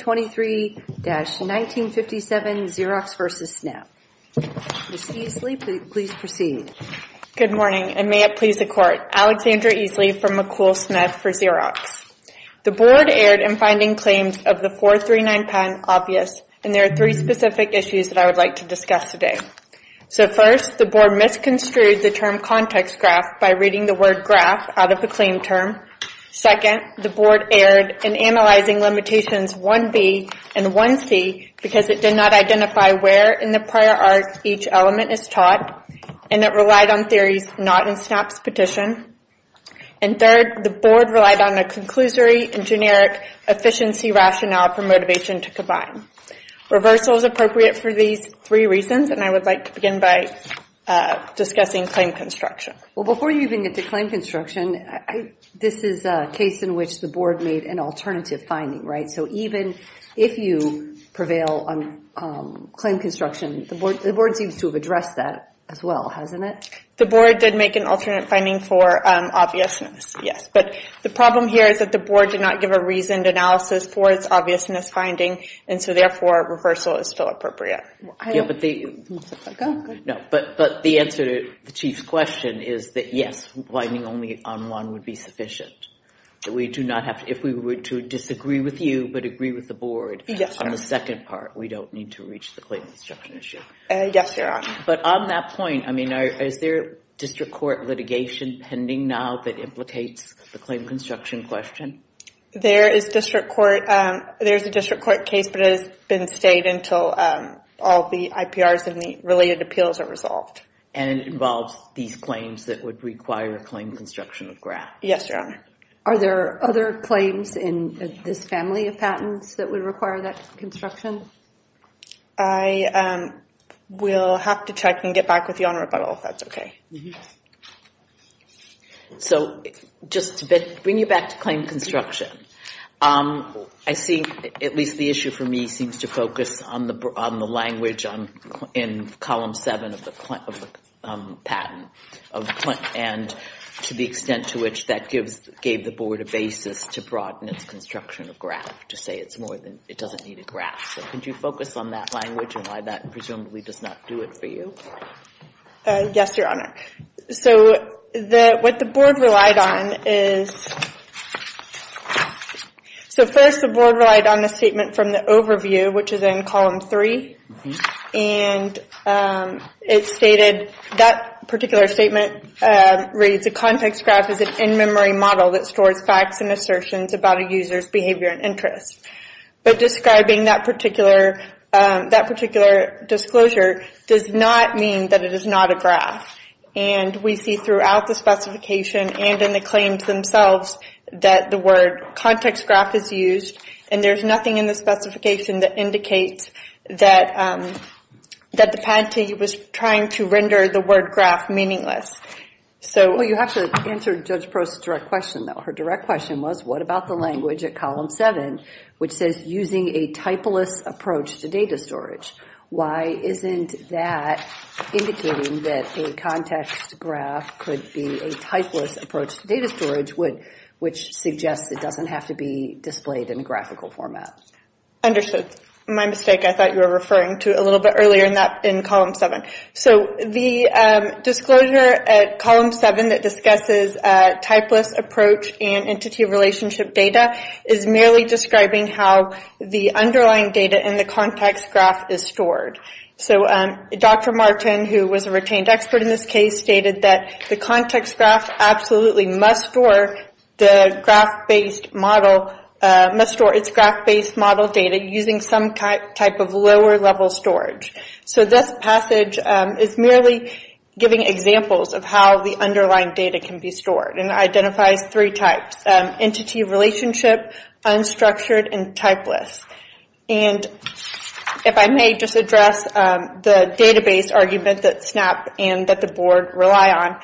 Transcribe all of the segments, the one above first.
23-1957, Xerox v. Snap. Ms. Eesley, please proceed. Good morning, and may it please the Court, Alexandra Eesley from McCool Smith for Xerox. The Board erred in finding claims of the 439 patent obvious, and there are three specific issues that I would like to discuss today. So first, the Board misconstrued the term context graph by reading the word graph out of the claim term. Second, the Board erred in analyzing limitations 1b and 1c because it did not identify where in the prior art each element is taught, and it relied on theories not in Snap's petition. And third, the Board relied on a conclusory and generic efficiency rationale for motivation to combine. Reversal is appropriate for these three reasons, and I would like to begin by discussing claim construction. Well, before you even get to claim construction, this is a case in which the Board made an alternative finding, right? So even if you prevail on claim construction, the Board seems to have addressed that as well, hasn't it? The Board did make an alternate finding for obviousness, yes. But the problem here is that the Board did not give a reasoned analysis for its obviousness finding, and so therefore, reversal is still appropriate. But the answer to the Chief's question is that yes, whining only on one would be sufficient. We do not have to, if we were to disagree with you but agree with the Board on the second part, we don't need to reach the claim construction issue. Yes, Your Honor. But on that point, I mean, is there district court litigation pending now that implicates the claim construction question? There is district court, there's a district court case, but it has been stayed until all the IPRs and the related appeals are resolved. And it involves these claims that would require claim construction of graphs? Yes, Your Honor. Are there other claims in this family of patents that would require that construction? I will have to check and get back with you on rebuttal if that's okay. So, just to bring you back to claim construction, I see, at least the issue for me seems to focus on the language in Column 7 of the patent, and to the extent to which that gave the Board a basis to broaden its construction of graph, to say it's more than, it doesn't need a graph. So, could you focus on that language and why that presumably does not do it for you? Yes, Your Honor. So, what the Board relied on is, so first the Board relied on the statement from the overview, which is in Column 3, and it stated that particular statement reads, a context graph is an in-memory model that stores facts and assertions about a user's behavior and But describing that particular disclosure does not mean that it is not a graph. And we see throughout the specification and in the claims themselves that the word context graph is used, and there's nothing in the specification that indicates that the patentee was trying to render the word graph meaningless. Well, you have to answer Judge Prost's direct question, though. Her direct question was, what about the language at Column 7, which says, using a typeless approach to data storage? Why isn't that indicating that a context graph could be a typeless approach to data storage, which suggests it doesn't have to be displayed in a graphical format? Understood. My mistake. I thought you were referring to it a little bit earlier in Column 7. So the disclosure at Column 7 that discusses typeless approach and entity relationship data is merely describing how the underlying data in the context graph is stored. So Dr. Martin, who was a retained expert in this case, stated that the context graph absolutely must store its graph-based model data using some type of lower-level storage. So this passage is merely giving examples of how the underlying data can be stored and identifies three types, entity relationship, unstructured, and typeless. And if I may just address the database argument that SNAP and that the Board rely on.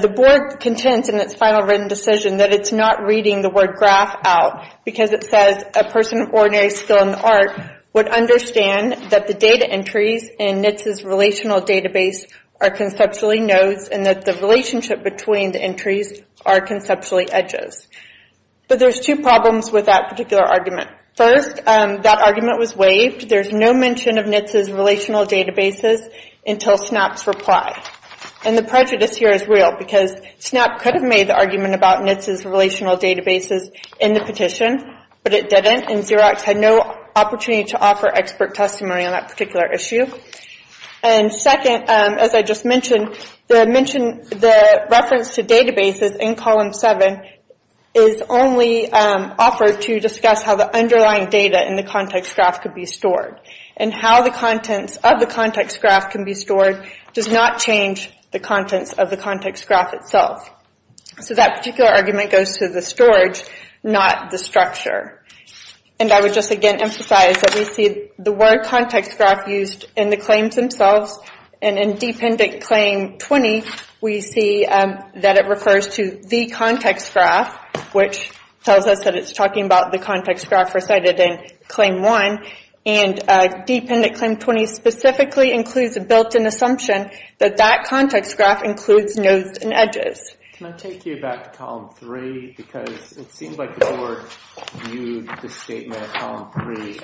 The Board contends in its final written decision that it's not reading the word graph out because it says a person of ordinary skill in the art would understand that the data entries in NHTSA's relational database are conceptually nodes and that the relationship between the entries are conceptually edges. But there's two problems with that particular argument. First, that argument was waived. There's no mention of NHTSA's relational databases until SNAP's reply. And the prejudice here is real because SNAP could have made the argument about NHTSA's relational databases in the petition, but it didn't, and Xerox had no opportunity to offer expert testimony on that particular issue. And second, as I just mentioned, the reference to databases in column 7 is only offered to discuss how the underlying data in the context graph could be stored. And how the contents of the context graph can be stored does not change the contents of the context graph itself. So that particular argument goes to the storage, not the structure. And I would just again emphasize that we see the word context graph used in the claims themselves, and in Dependent Claim 20, we see that it refers to the context graph, which tells us that it's talking about the context graph recited in Claim 1. And Dependent Claim 20 specifically includes a built-in assumption that that context graph includes nodes and edges. Can I take you back to column 3? Because it seems like the board viewed the statement in column 3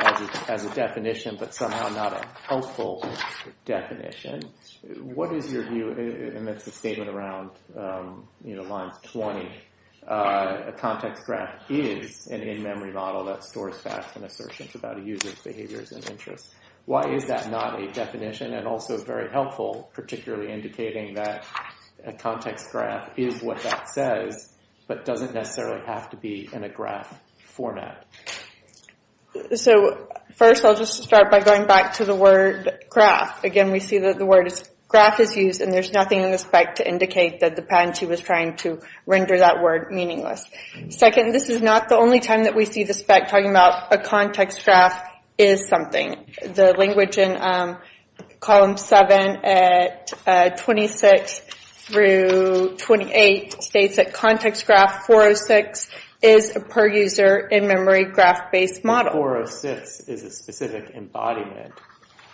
as a definition, but somehow not a helpful definition. What is your view, and that's the statement around lines 20, a context graph is an in-memory model that stores facts and assertions about a user's behaviors and interests. Why is that not a definition and also very helpful, particularly indicating that a context graph is what that says, but doesn't necessarily have to be in a graph format? So first I'll just start by going back to the word graph. Again we see that the word graph is used, and there's nothing in the spec to indicate that the patentee was trying to render that word meaningless. Second, this is not the only time that we see the spec talking about a context graph is something. The language in column 7 at 26 through 28 states that Context Graph 406 is a per-user in-memory graph-based model. 406 is a specific embodiment,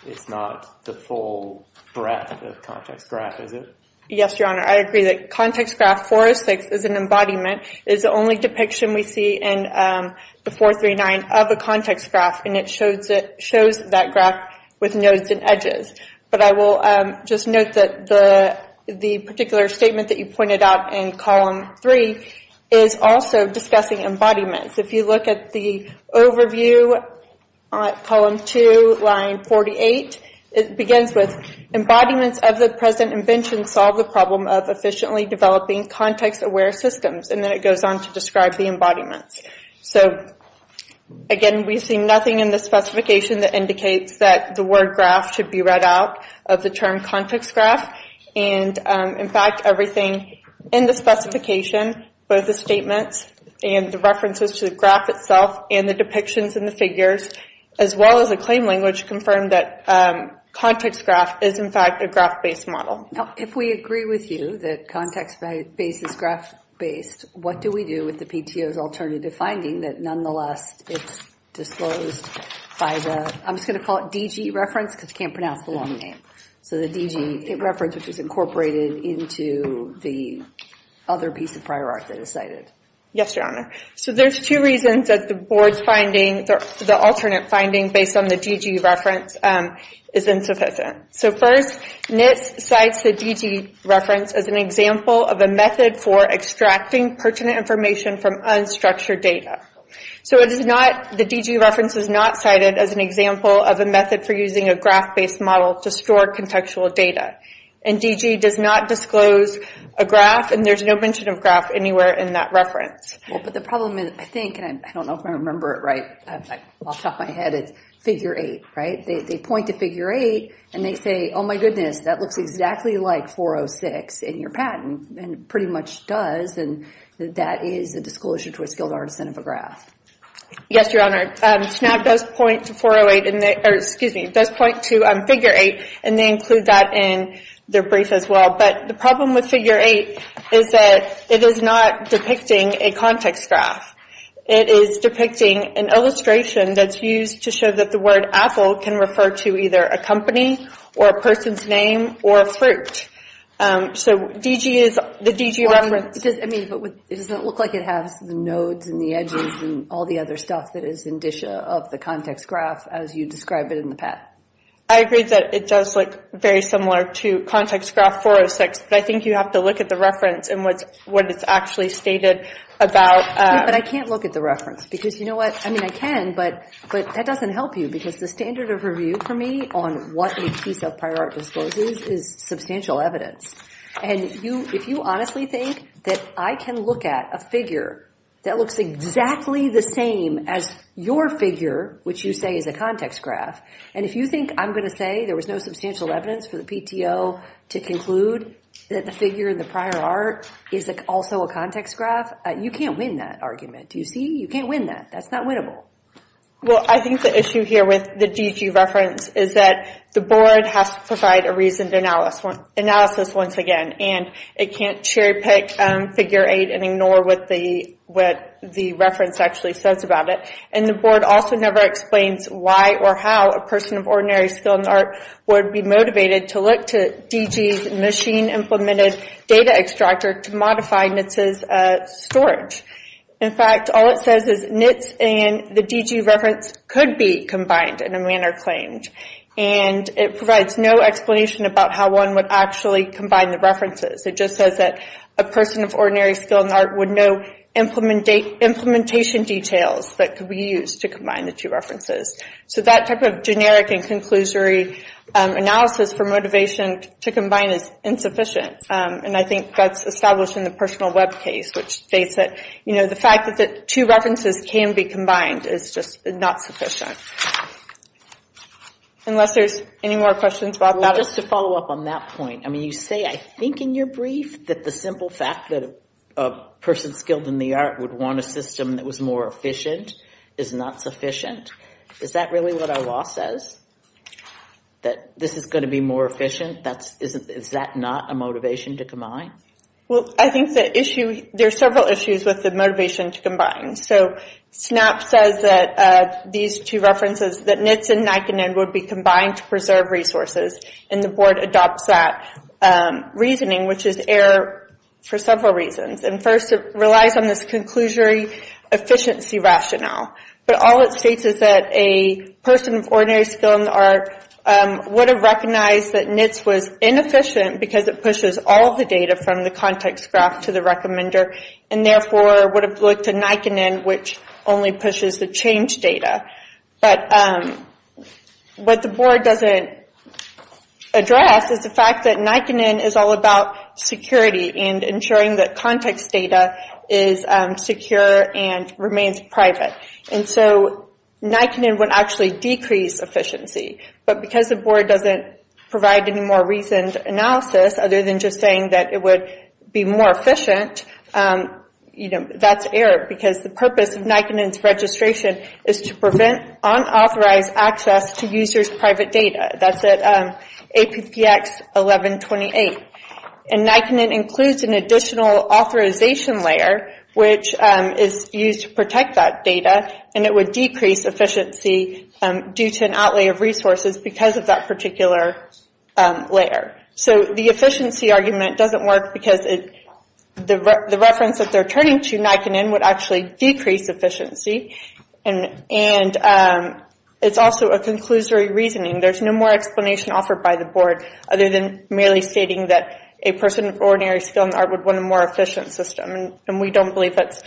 it's not the full breadth of the context graph, is it? Yes, Your Honor, I agree that Context Graph 406 is an embodiment, it's the only depiction we see in the 439 of a context graph, and it shows that graph with nodes and edges. But I will just note that the particular statement that you pointed out in column 3 is also discussing embodiments. If you look at the overview at column 2, line 48, it begins with, Embodiments of the present invention solve the problem of efficiently developing context-aware systems. And then it goes on to describe the embodiments. So again, we see nothing in the specification that indicates that the word graph should be read out of the term context graph, and in fact everything in the specification, both the statements and the references to the graph itself and the depictions in the figures, as well as the claim language, confirm that context graph is in fact a graph-based model. Now, if we agree with you that context-based is graph-based, what do we do with the PTO's alternative finding that nonetheless it's disclosed by the, I'm just going to call it DG reference because you can't pronounce the long name. So the DG reference, which is incorporated into the other piece of prior art that is cited. Yes, Your Honor. So there's two reasons that the board's finding, the alternate finding based on the DG reference, is insufficient. So first, NIST cites the DG reference as an example of a method for extracting pertinent information from unstructured data. So it is not, the DG reference is not cited as an example of a method for using a graph-based model to store contextual data. And DG does not disclose a graph, and there's no mention of graph anywhere in that reference. Well, but the problem is, I think, and I don't know if I remember it right, I've lost off my head, it's figure eight, right? They point to figure eight and they say, oh my goodness, that looks exactly like 406 in your patent, and pretty much does, and that is a disclosure to a skilled artisan of a Yes, Your Honor. SNAP does point to 408, or excuse me, does point to figure eight, and they include that in their brief as well. But the problem with figure eight is that it is not depicting a context graph. It is depicting an illustration that's used to show that the word apple can refer to either a company, or a person's name, or a fruit. So DG is, the DG reference Well, I mean, but it doesn't look like it has the nodes and the edges and all the other stuff that is indicia of the context graph as you describe it in the patent. I agree that it does look very similar to context graph 406, but I think you have to look at the reference and what it's actually stated about But I can't look at the reference because, you know what, I mean, I can, but that doesn't help you because the standard of review for me on what a piece of prior art discloses is substantial evidence. And if you honestly think that I can look at a figure that looks exactly the same as your figure, which you say is a context graph, and if you think I'm going to say there was no substantial evidence for the PTO to conclude that the figure in the prior art is also a context graph, you can't win that argument. Do you see? You can't win that. That's not winnable. Well, I think the issue here with the DG reference is that the board has to provide a reasoned analysis once again, and it can't cherry pick figure 8 and ignore what the reference actually says about it. And the board also never explains why or how a person of ordinary skill in art would be motivated to look to DG's machine-implemented data extractor to modify NHTSA's storage. In fact, all it says is NHTSA and the DG reference could be combined in a manner claimed. And it provides no explanation about how one would actually combine the references. It just says that a person of ordinary skill in art would know implementation details that could be used to combine the two references. So that type of generic and conclusory analysis for motivation to combine is insufficient. And I think that's established in the personal web case, which states that, you know, the fact that the two references can be combined is just not sufficient, unless there's any more questions about that. Well, just to follow up on that point, I mean, you say, I think in your brief, that the simple fact that a person skilled in the art would want a system that was more efficient is not efficient. Is that really what our law says? That this is going to be more efficient? Is that not a motivation to combine? Well, I think the issue, there are several issues with the motivation to combine. So SNAP says that these two references, that NHTSA and NIKON would be combined to preserve resources and the board adopts that reasoning, which is error for several reasons. And first, it relies on this conclusory efficiency rationale. But all it states is that a person of ordinary skill in the art would have recognized that NHTSA was inefficient because it pushes all the data from the context graph to the recommender and therefore would have looked to NIKON which only pushes the change data. But what the board doesn't address is the fact that NIKON is all about security and ensuring that context data is secure and remains private. And so NIKON would actually decrease efficiency. But because the board doesn't provide any more reasoned analysis other than just saying that it would be more efficient, that's error. Because the purpose of NIKON's registration is to prevent unauthorized access to user's private data. That's at APTX 1128. And NIKON includes an additional authorization layer which is used to protect that data and it would decrease efficiency due to an outlay of resources because of that particular layer. So the efficiency argument doesn't work because the reference that they're turning to, NIKON, would actually decrease efficiency and it's also a conclusory reasoning. There's no more explanation offered by the board other than merely stating that a person of ordinary skill in art would want a more efficient system. And we don't believe that's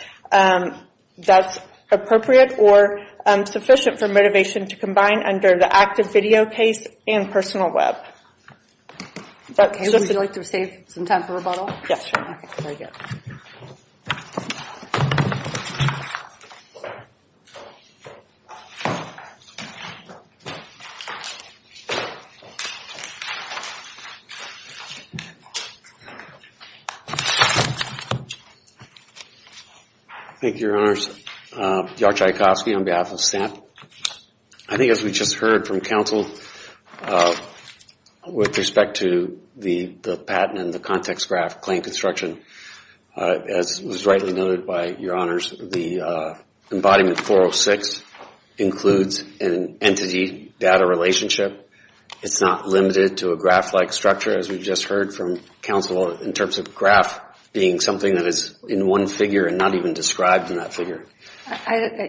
appropriate or sufficient for motivation to combine under the active video case and personal web. Okay, would you like to save some time for rebuttal? Yes, sure. Okay, very good. Thank you, Your Honors. George Iacofsky on behalf of staff. I think as we just heard from counsel with respect to the patent and the context graph claim construction, as was rightly noted by Your Honors, the embodiment 406 includes an entity-data relationship. It's not limited to a graph-like structure as we just heard from counsel in terms of a graph being something that is in one figure and not even described in that figure.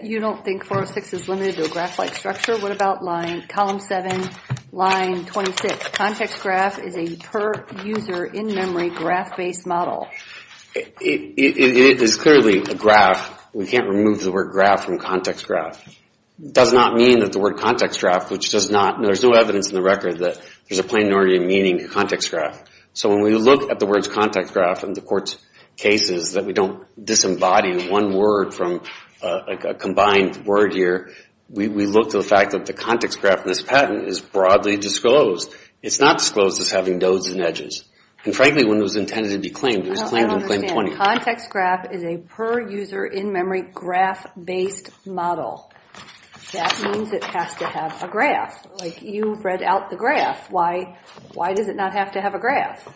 You don't think 406 is limited to a graph-like structure? What about column 7, line 26? Context graph is a per-user in-memory graph-based model. It is clearly a graph. We can't remove the word graph from context graph. It does not mean that the word context graph, which does not, there's no evidence in the record that there's a plenarity of meaning to context graph. So when we look at the words context graph in the court's cases that we don't disembody one word from a combined word here, we look to the fact that the context graph in this patent is broadly disclosed. It's not disclosed as having nodes and edges. And frankly, when it was intended to be claimed, it was claimed in claim 20. Context graph is a per-user in-memory graph-based model. That means it has to have a graph. You read out the graph. Why does it not have to have a graph?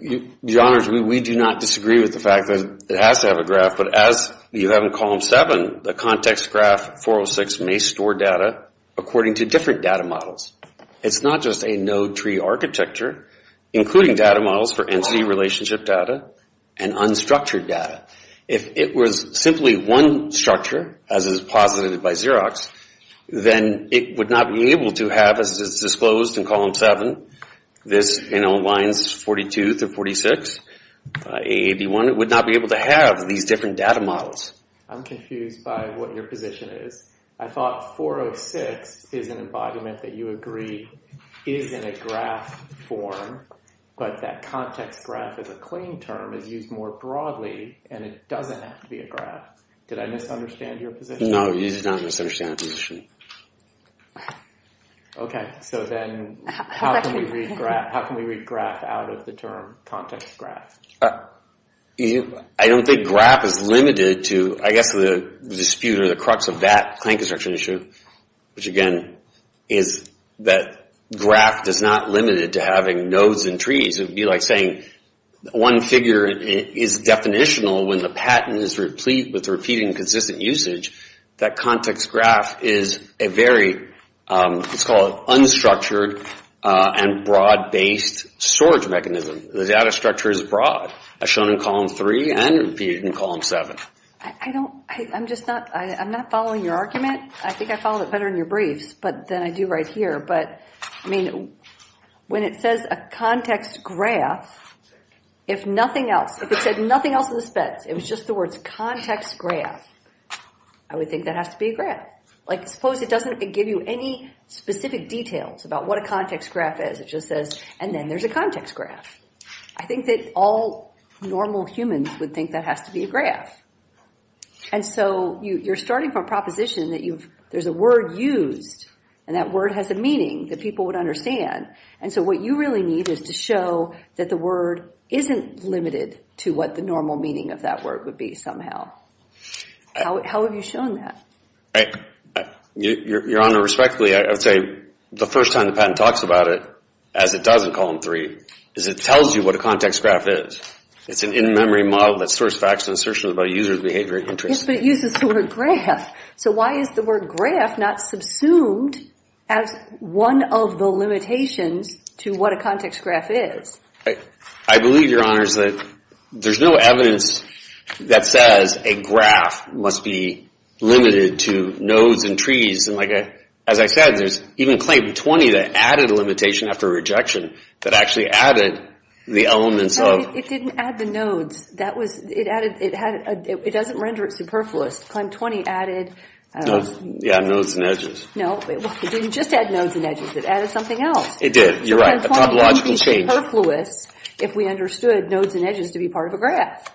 Your Honors, we do not disagree with the fact that it has to have a graph, but as you have in column 7, the context graph 406 may store data according to different data models. It's not just a node tree architecture, including data models for entity relationship data and unstructured data. If it was simply one structure, as is posited by Xerox, then it would not be able to have, as is disclosed in column 7, this in lines 42 through 46, AAD1, it would not be able to have these different data models. I'm confused by what your position is. I thought 406 is an embodiment that you agree is in a graph form, but that context graph as a claim term is used more broadly, and it doesn't have to be a graph. Did I misunderstand your position? No, you did not misunderstand my position. Okay, so then how can we read graph out of the term context graph? I don't think graph is limited to, I guess the dispute or the crux of that claim construction issue, which again is that graph is not limited to having nodes and trees. It would be like saying one figure is definitional when the patent is with repeating consistent usage, that context graph is a very, let's call it unstructured and broad-based storage mechanism. The data structure is broad, as shown in column 3 and repeated in column 7. I don't, I'm just not, I'm not following your argument. I think I followed it better in your briefs than I do right here. But, I mean, when it says a context graph, if nothing else, if it said nothing else in the specs, it was just the words context graph, I would think that has to be a graph. Like, suppose it doesn't give you any specific details about what a context graph is. It just says, and then there's a context graph. I think that all normal humans would think that has to be a graph. And so you're starting from a proposition that you've, there's a word used, and that word has a meaning that people would understand. And so what you really need is to show that the word isn't limited to what the normal meaning of that word would be somehow. How have you shown that? Your Honor, respectfully, I would say the first time the patent talks about it, as it does in column 3, is it tells you what a context graph is. It's an in-memory model that stores facts and assertions about a user's behavior and interests. Yes, but it uses the word graph. So why is the word graph not subsumed as one of the limitations to what a context graph is? I believe, Your Honors, that there's no evidence that says a graph must be limited to nodes and trees. As I said, there's even claim 20 that added a limitation after rejection that actually added the elements of It didn't add the nodes. It doesn't render it superfluous. Claim 20 added... Yeah, nodes and edges. No, it didn't just add nodes and edges. It added something else. It did. You're right. A topological change. It wouldn't be superfluous if we understood nodes and edges to be part of a graph.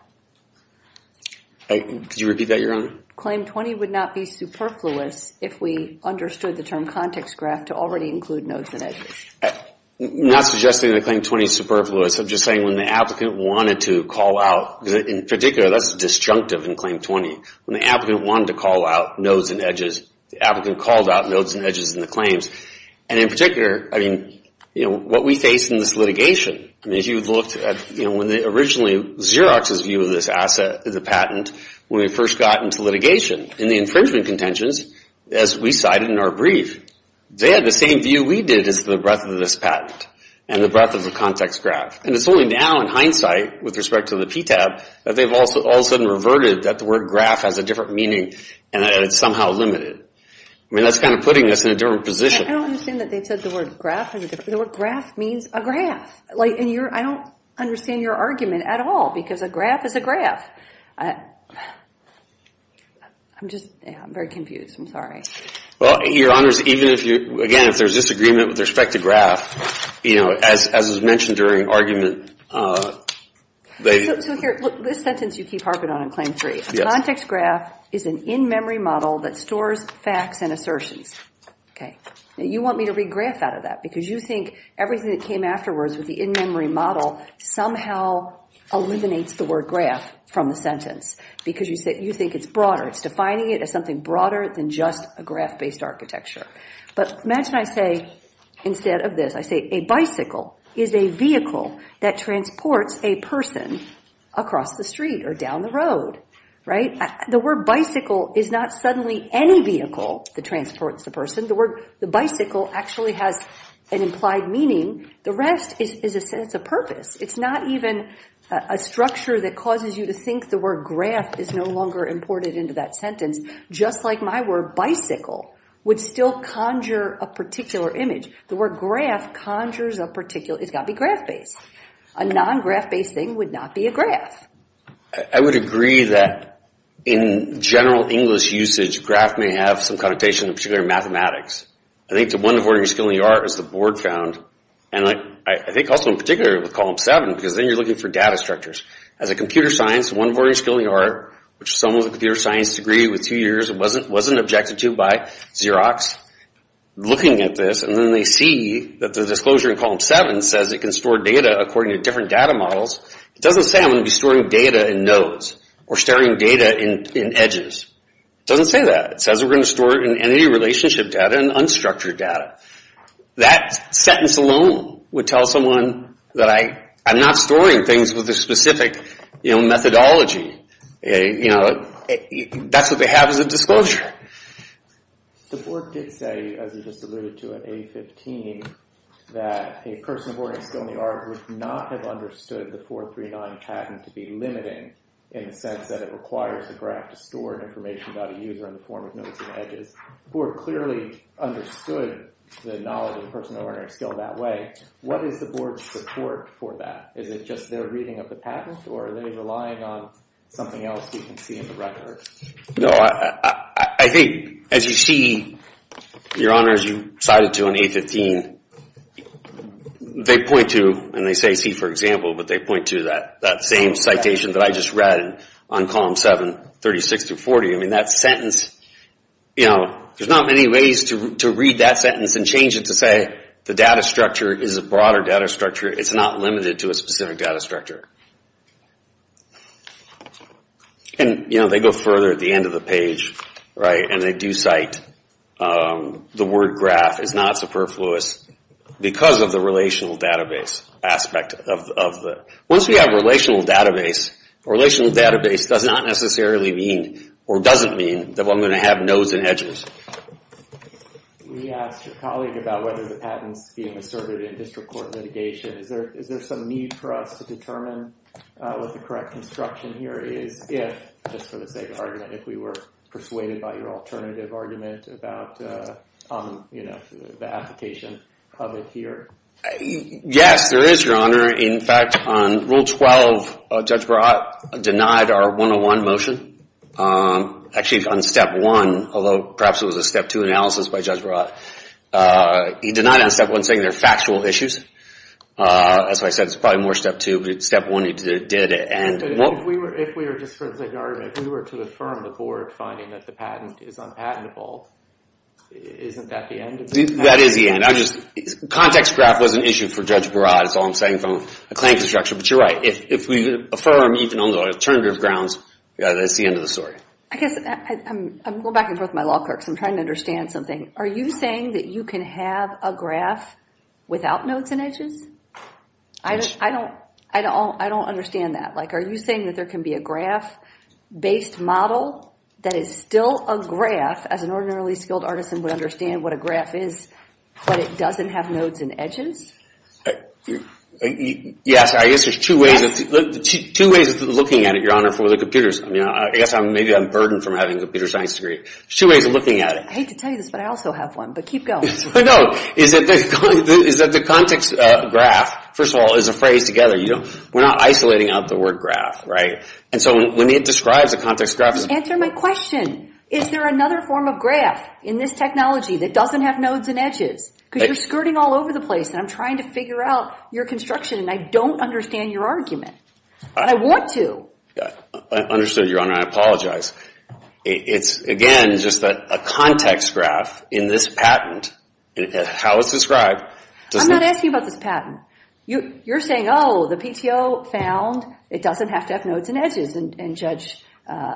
Could you repeat that, Your Honor? Claim 20 would not be superfluous if we understood the term context graph to already include nodes and edges. I'm not suggesting that claim 20 is superfluous. I'm just saying when the applicant wanted to call out... In particular, that's disjunctive in claim 20. When the applicant wanted to call out nodes and edges, the applicant called out nodes and edges in the claims. In particular, what we face in this litigation... If you looked at, originally, Xerox's view of this asset, the patent, when we first got into litigation, in the infringement contentions, as we cited in our brief, they had the same view we did as the breadth of this patent and the breadth of the context graph. And it's only now, in hindsight, with respect to the PTAB, that they've all of a sudden reverted that the word graph has a different meaning and that it's somehow limited. I mean, that's kind of putting us in a different position. I don't understand that they said the word graph has a different... The word graph means a graph. I don't understand your argument at all because a graph is a graph. I'm just... I'm very confused. I'm sorry. Well, Your Honors, even if you... Again, if there's disagreement with respect to graph, you know, as was mentioned during argument, they... So here, look, this sentence you keep harping on in Claim 3. Yes. A context graph is an in-memory model that stores facts and assertions. Okay. Now, you want me to read graph out of that because you think everything that came afterwards with the in-memory model somehow eliminates the word graph from the sentence because you think it's broader. It's defining it as something broader than just a graph-based architecture. But imagine I say instead of this, I say a bicycle is a vehicle that transports a person across the street or down the road, right? The word bicycle is not suddenly any vehicle that transports the person. The word bicycle actually has an implied meaning. The rest is a sense of purpose. It's not even a structure that causes you to think the word graph is no longer imported into that sentence. Just like my word bicycle would still conjure a particular image. The word graph conjures a particular... It's got to be graph-based. A non-graph-based thing would not be a graph. I would agree that in general English usage, graph may have some connotation in particular mathematics. I think the one important skill in the art is the board found. I think also in particular with Column 7 because then you're looking for data structures. As a computer science, one important skill in the art, which someone with a computer science degree with two years wasn't objected to by Xerox, looking at this and then they see that the disclosure in Column 7 says it can store data according to different data models. It doesn't say I'm going to be storing data in nodes or storing data in edges. It doesn't say that. It says we're going to store it in entity relationship data and unstructured data. That sentence alone would tell someone that I'm not storing things with a specific methodology. That's what they have as a disclosure. The board did say, as you just alluded to, in A15, that a person who were in skill in the art would not have understood the 439 pattern to be limiting in the sense that it requires a graph to store information about a user in the form of nodes and edges. The board clearly understood the knowledge of personal learning skill that way. What is the board's support for that? Is it just their reading of the patent or are they relying on something else you can see in the record? I think as you see, your honors, you cited to in A15, they point to, and they say see for example, but they point to that same citation that I just read on Column 7, 36 through 40. That sentence, there's not many ways to read that sentence and change it to say the data structure is a broader data structure. It's not limited to a specific data structure. They go further at the end of the page and they do cite the word graph is not superfluous because of the relational database aspect of it. Once we have relational database, relational database does not necessarily mean or doesn't mean that I'm going to have nodes and edges. We asked your colleague about whether the patents being asserted in district court litigation. Is there some need for us to determine what the correct construction here is if, just for the sake of argument, if we were persuaded by your alternative argument about the application of it here? Yes, there is, your honor. In fact, on Rule 12, Judge Barad denied our 101 motion. Actually, on Step 1, although perhaps it was a Step 2 analysis by Judge Barad, he denied on Step 1 saying they're factual issues. As I said, it's probably more Step 2, but Step 1 he did it. If we were just for the sake of argument, if we were to affirm the board finding that the patent is unpatentable, isn't that the end of the patent? That is the end. Context graph was an issue for Judge Barad. That's all I'm saying from a claim construction, but you're right. If we affirm even on the alternative grounds, that's the end of the story. I'm going back and forth with my law clerks. I'm trying to understand something. Are you saying that you can have a graph without nodes and edges? I don't understand that. Are you saying that there can be a graph-based model that is still a graph, as an ordinarily skilled artisan would understand what a graph is, but it doesn't have nodes and edges? Yes. I guess there's two ways of looking at it, Your Honor, for the computers. I guess maybe I'm burdened from having a computer science degree. There's two ways of looking at it. I hate to tell you this, but I also have one, but keep going. No. The context graph, first of all, is a phrase together. We're not isolating out the word graph, right? When it describes a context graph- Answer my question. Is there another form of graph in this technology that doesn't have nodes and edges? Because you're skirting all over the place, and I'm trying to figure out your construction, and I don't understand your argument. And I want to. I understood, Your Honor. I apologize. It's, again, just a context graph in this patent, how it's described. I'm not asking about this patent. You're saying, oh, the PTO found it doesn't have to have nodes and edges, and Judge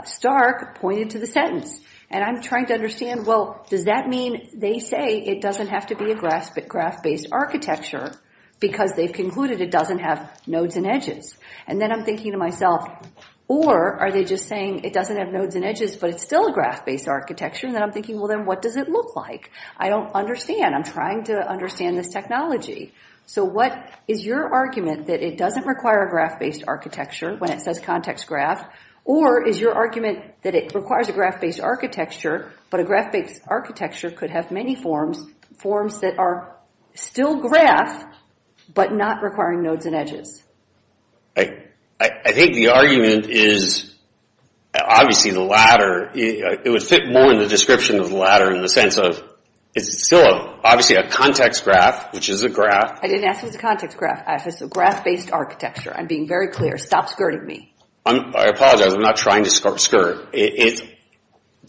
Stark pointed to the sentence. And I'm trying to understand, well, does that mean they say it doesn't have to be a graph-based architecture because they've concluded it doesn't have nodes and edges? And then I'm thinking to myself, or are they just saying it doesn't have nodes and edges, but it's still a graph-based architecture? And then I'm thinking, well, then what does it look like? I don't understand. I'm trying to understand this technology. So what is your argument that it doesn't require a graph-based architecture when it says context graph? Or is your argument that it requires a graph-based architecture, but a graph-based architecture could have many forms, forms that are still graph, but not requiring nodes and edges? I think the argument is, obviously, the latter. It would fit more in the description of the latter in the sense of, it's still, obviously, a context graph, which is a graph. I didn't ask if it's a context graph. I asked if it's a graph-based architecture. I'm being very clear. Stop skirting me. I apologize. I'm not trying to skirt. To the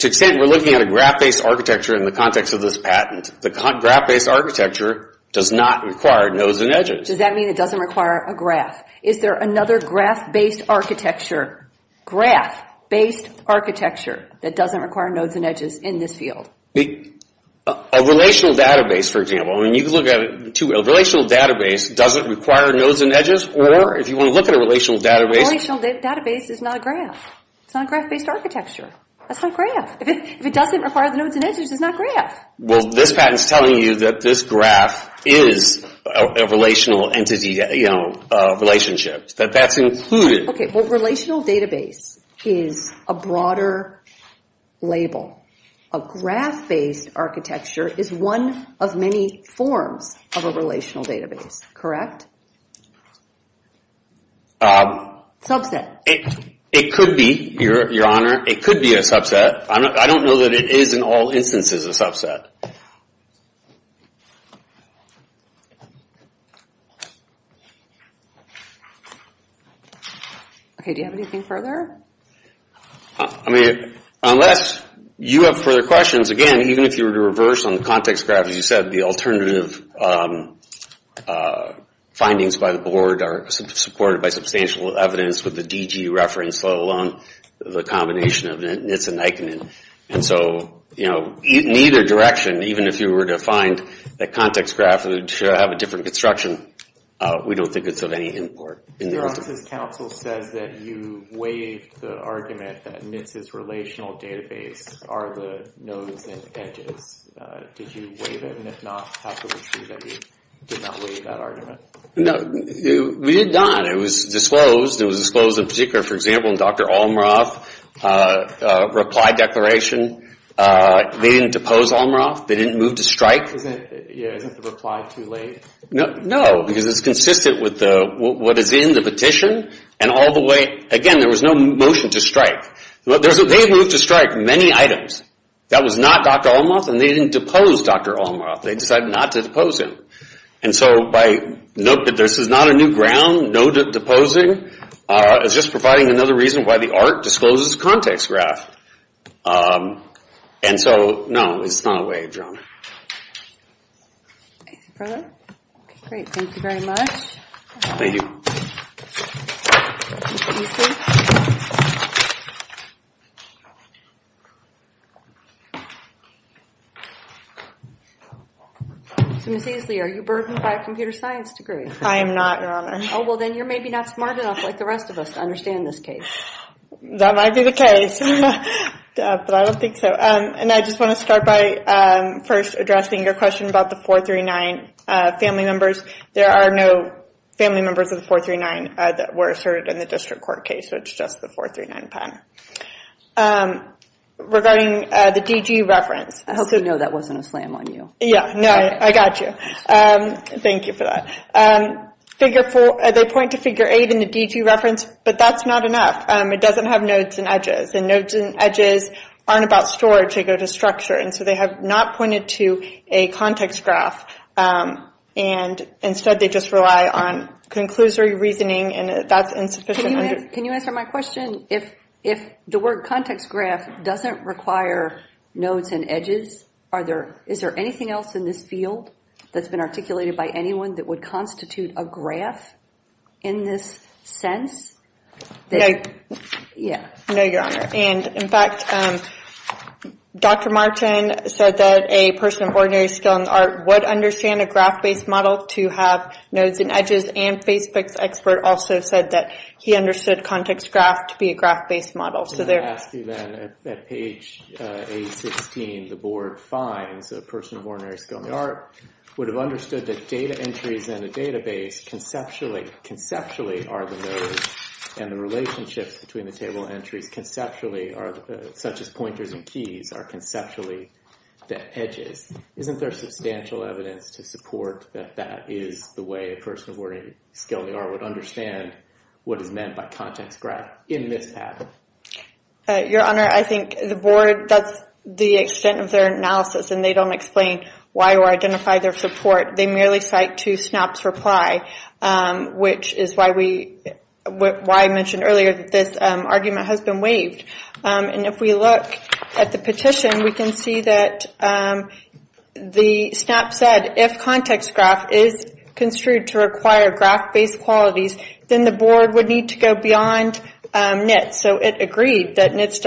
extent we're looking at a graph-based architecture in the context of this patent, the graph-based architecture does not require nodes and edges. Does that mean it doesn't require a graph? Is there another graph-based architecture, graph-based architecture, that doesn't require nodes and edges in this field? A relational database, for example, a relational database doesn't require nodes and edges, or if you want to look at a relational database. A relational database is not a graph. It's not a graph-based architecture. That's not a graph. If it doesn't require the nodes and edges, it's not a graph. Well, this patent's telling you that this graph is a relational entity, you know, relationship, that that's included. Okay, well, relational database is a broader label. A graph-based architecture is one of many forms of a relational database, correct? Subset. It could be, Your Honor. It could be a subset. I don't know that it is, in all instances, a subset. Okay, do you have anything further? I mean, unless you have further questions, again, even if you were to reverse on the context graph, as you said, the alternative findings by the board are supported by substantial evidence with the DG reference, let alone the combination of NITS and Aikman. And so, you know, in either direction, even if you were to find the context graph that would have a different construction, we don't think it's of any import. Your Honor, this counsel says that you waived the argument that NITS's relational database are the nodes and edges. Did you waive it? And if not, how can we prove that you did not waive that argument? No, we did not. It was disclosed. It was disclosed in particular, for example, in Dr. Almaroff's reply declaration. They didn't depose Almaroff. They didn't move to strike. Yeah, isn't the reply too late? No, because it's consistent with what is in the petition. And all the way, again, there was no motion to strike. They moved to strike many items. That was not Dr. Almaroff, and they didn't depose Dr. Almaroff. They decided not to depose him. And so, by note that this is not a new ground, no deposing, it's just providing another reason why the art discloses context graph. And so, no, it's not a waived, Your Honor. Thank you for that. Great, thank you very much. Thank you. Thank you. Ms. Easley, are you burdened by a computer science degree? I am not, Your Honor. Oh, well, then you're maybe not smart enough like the rest of us to understand this case. That might be the case, but I don't think so. And I just want to start by first addressing your question about the 439 family members. There are no family members of the 439 that were asserted in the district court case, so it's just the 439 pen. Regarding the DG reference. I hope you know that wasn't a slam on you. Yeah, no, I got you. Thank you for that. They point to figure 8 in the DG reference, but that's not enough. It doesn't have nodes and edges, and nodes and edges aren't about storage. They go to structure, and so they have not pointed to a context graph. And instead, they just rely on conclusory reasoning, and that's insufficient. Can you answer my question? If the word context graph doesn't require nodes and edges, is there anything else in this field that's been articulated by anyone that would constitute a graph in this sense? Yeah. No, Your Honor. And in fact, Dr. Martin said that a person of ordinary skill in art would understand a graph-based model to have nodes and edges, and Facebook's expert also said that he understood context graph to be a graph-based model. Can I ask you then, at page 816, the board finds a person of ordinary skill in the art would have understood that data entries in a database conceptually are the nodes, and the relationships between the table entries such as pointers and keys are conceptually the edges. Isn't there substantial evidence to support that that is the way a person of ordinary skill in the art would understand what is meant by context graph in this pattern? Your Honor, I think the board, that's the extent of their analysis, and they don't explain why or identify their support. They merely cite to SNAP's reply, which is why we, why I mentioned earlier that this argument has been waived. And if we look at the petition, we can see that the SNAP said, if context graph is construed to require graph-based quality then the board would need to go beyond NITS. So it agreed that NITS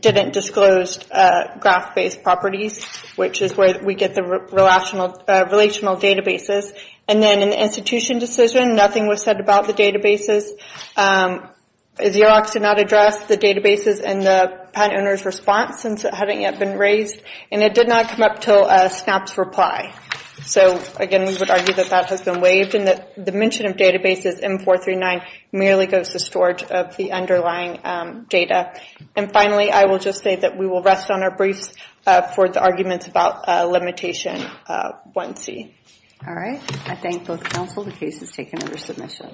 didn't disclose graph-based properties, which is where we get the relational databases. And then in the institution decision, nothing was said about the databases. Xerox did not address the databases in the patent owner's response since it hadn't yet been raised. And it did not come up until SNAP's reply. So again, we would argue that the retention of databases M439 merely goes to storage of the underlying data. And finally, I will just say that we will rest on our briefs for the arguments about limitation 1C. All right. I thank both counsel. The case is taken under submission.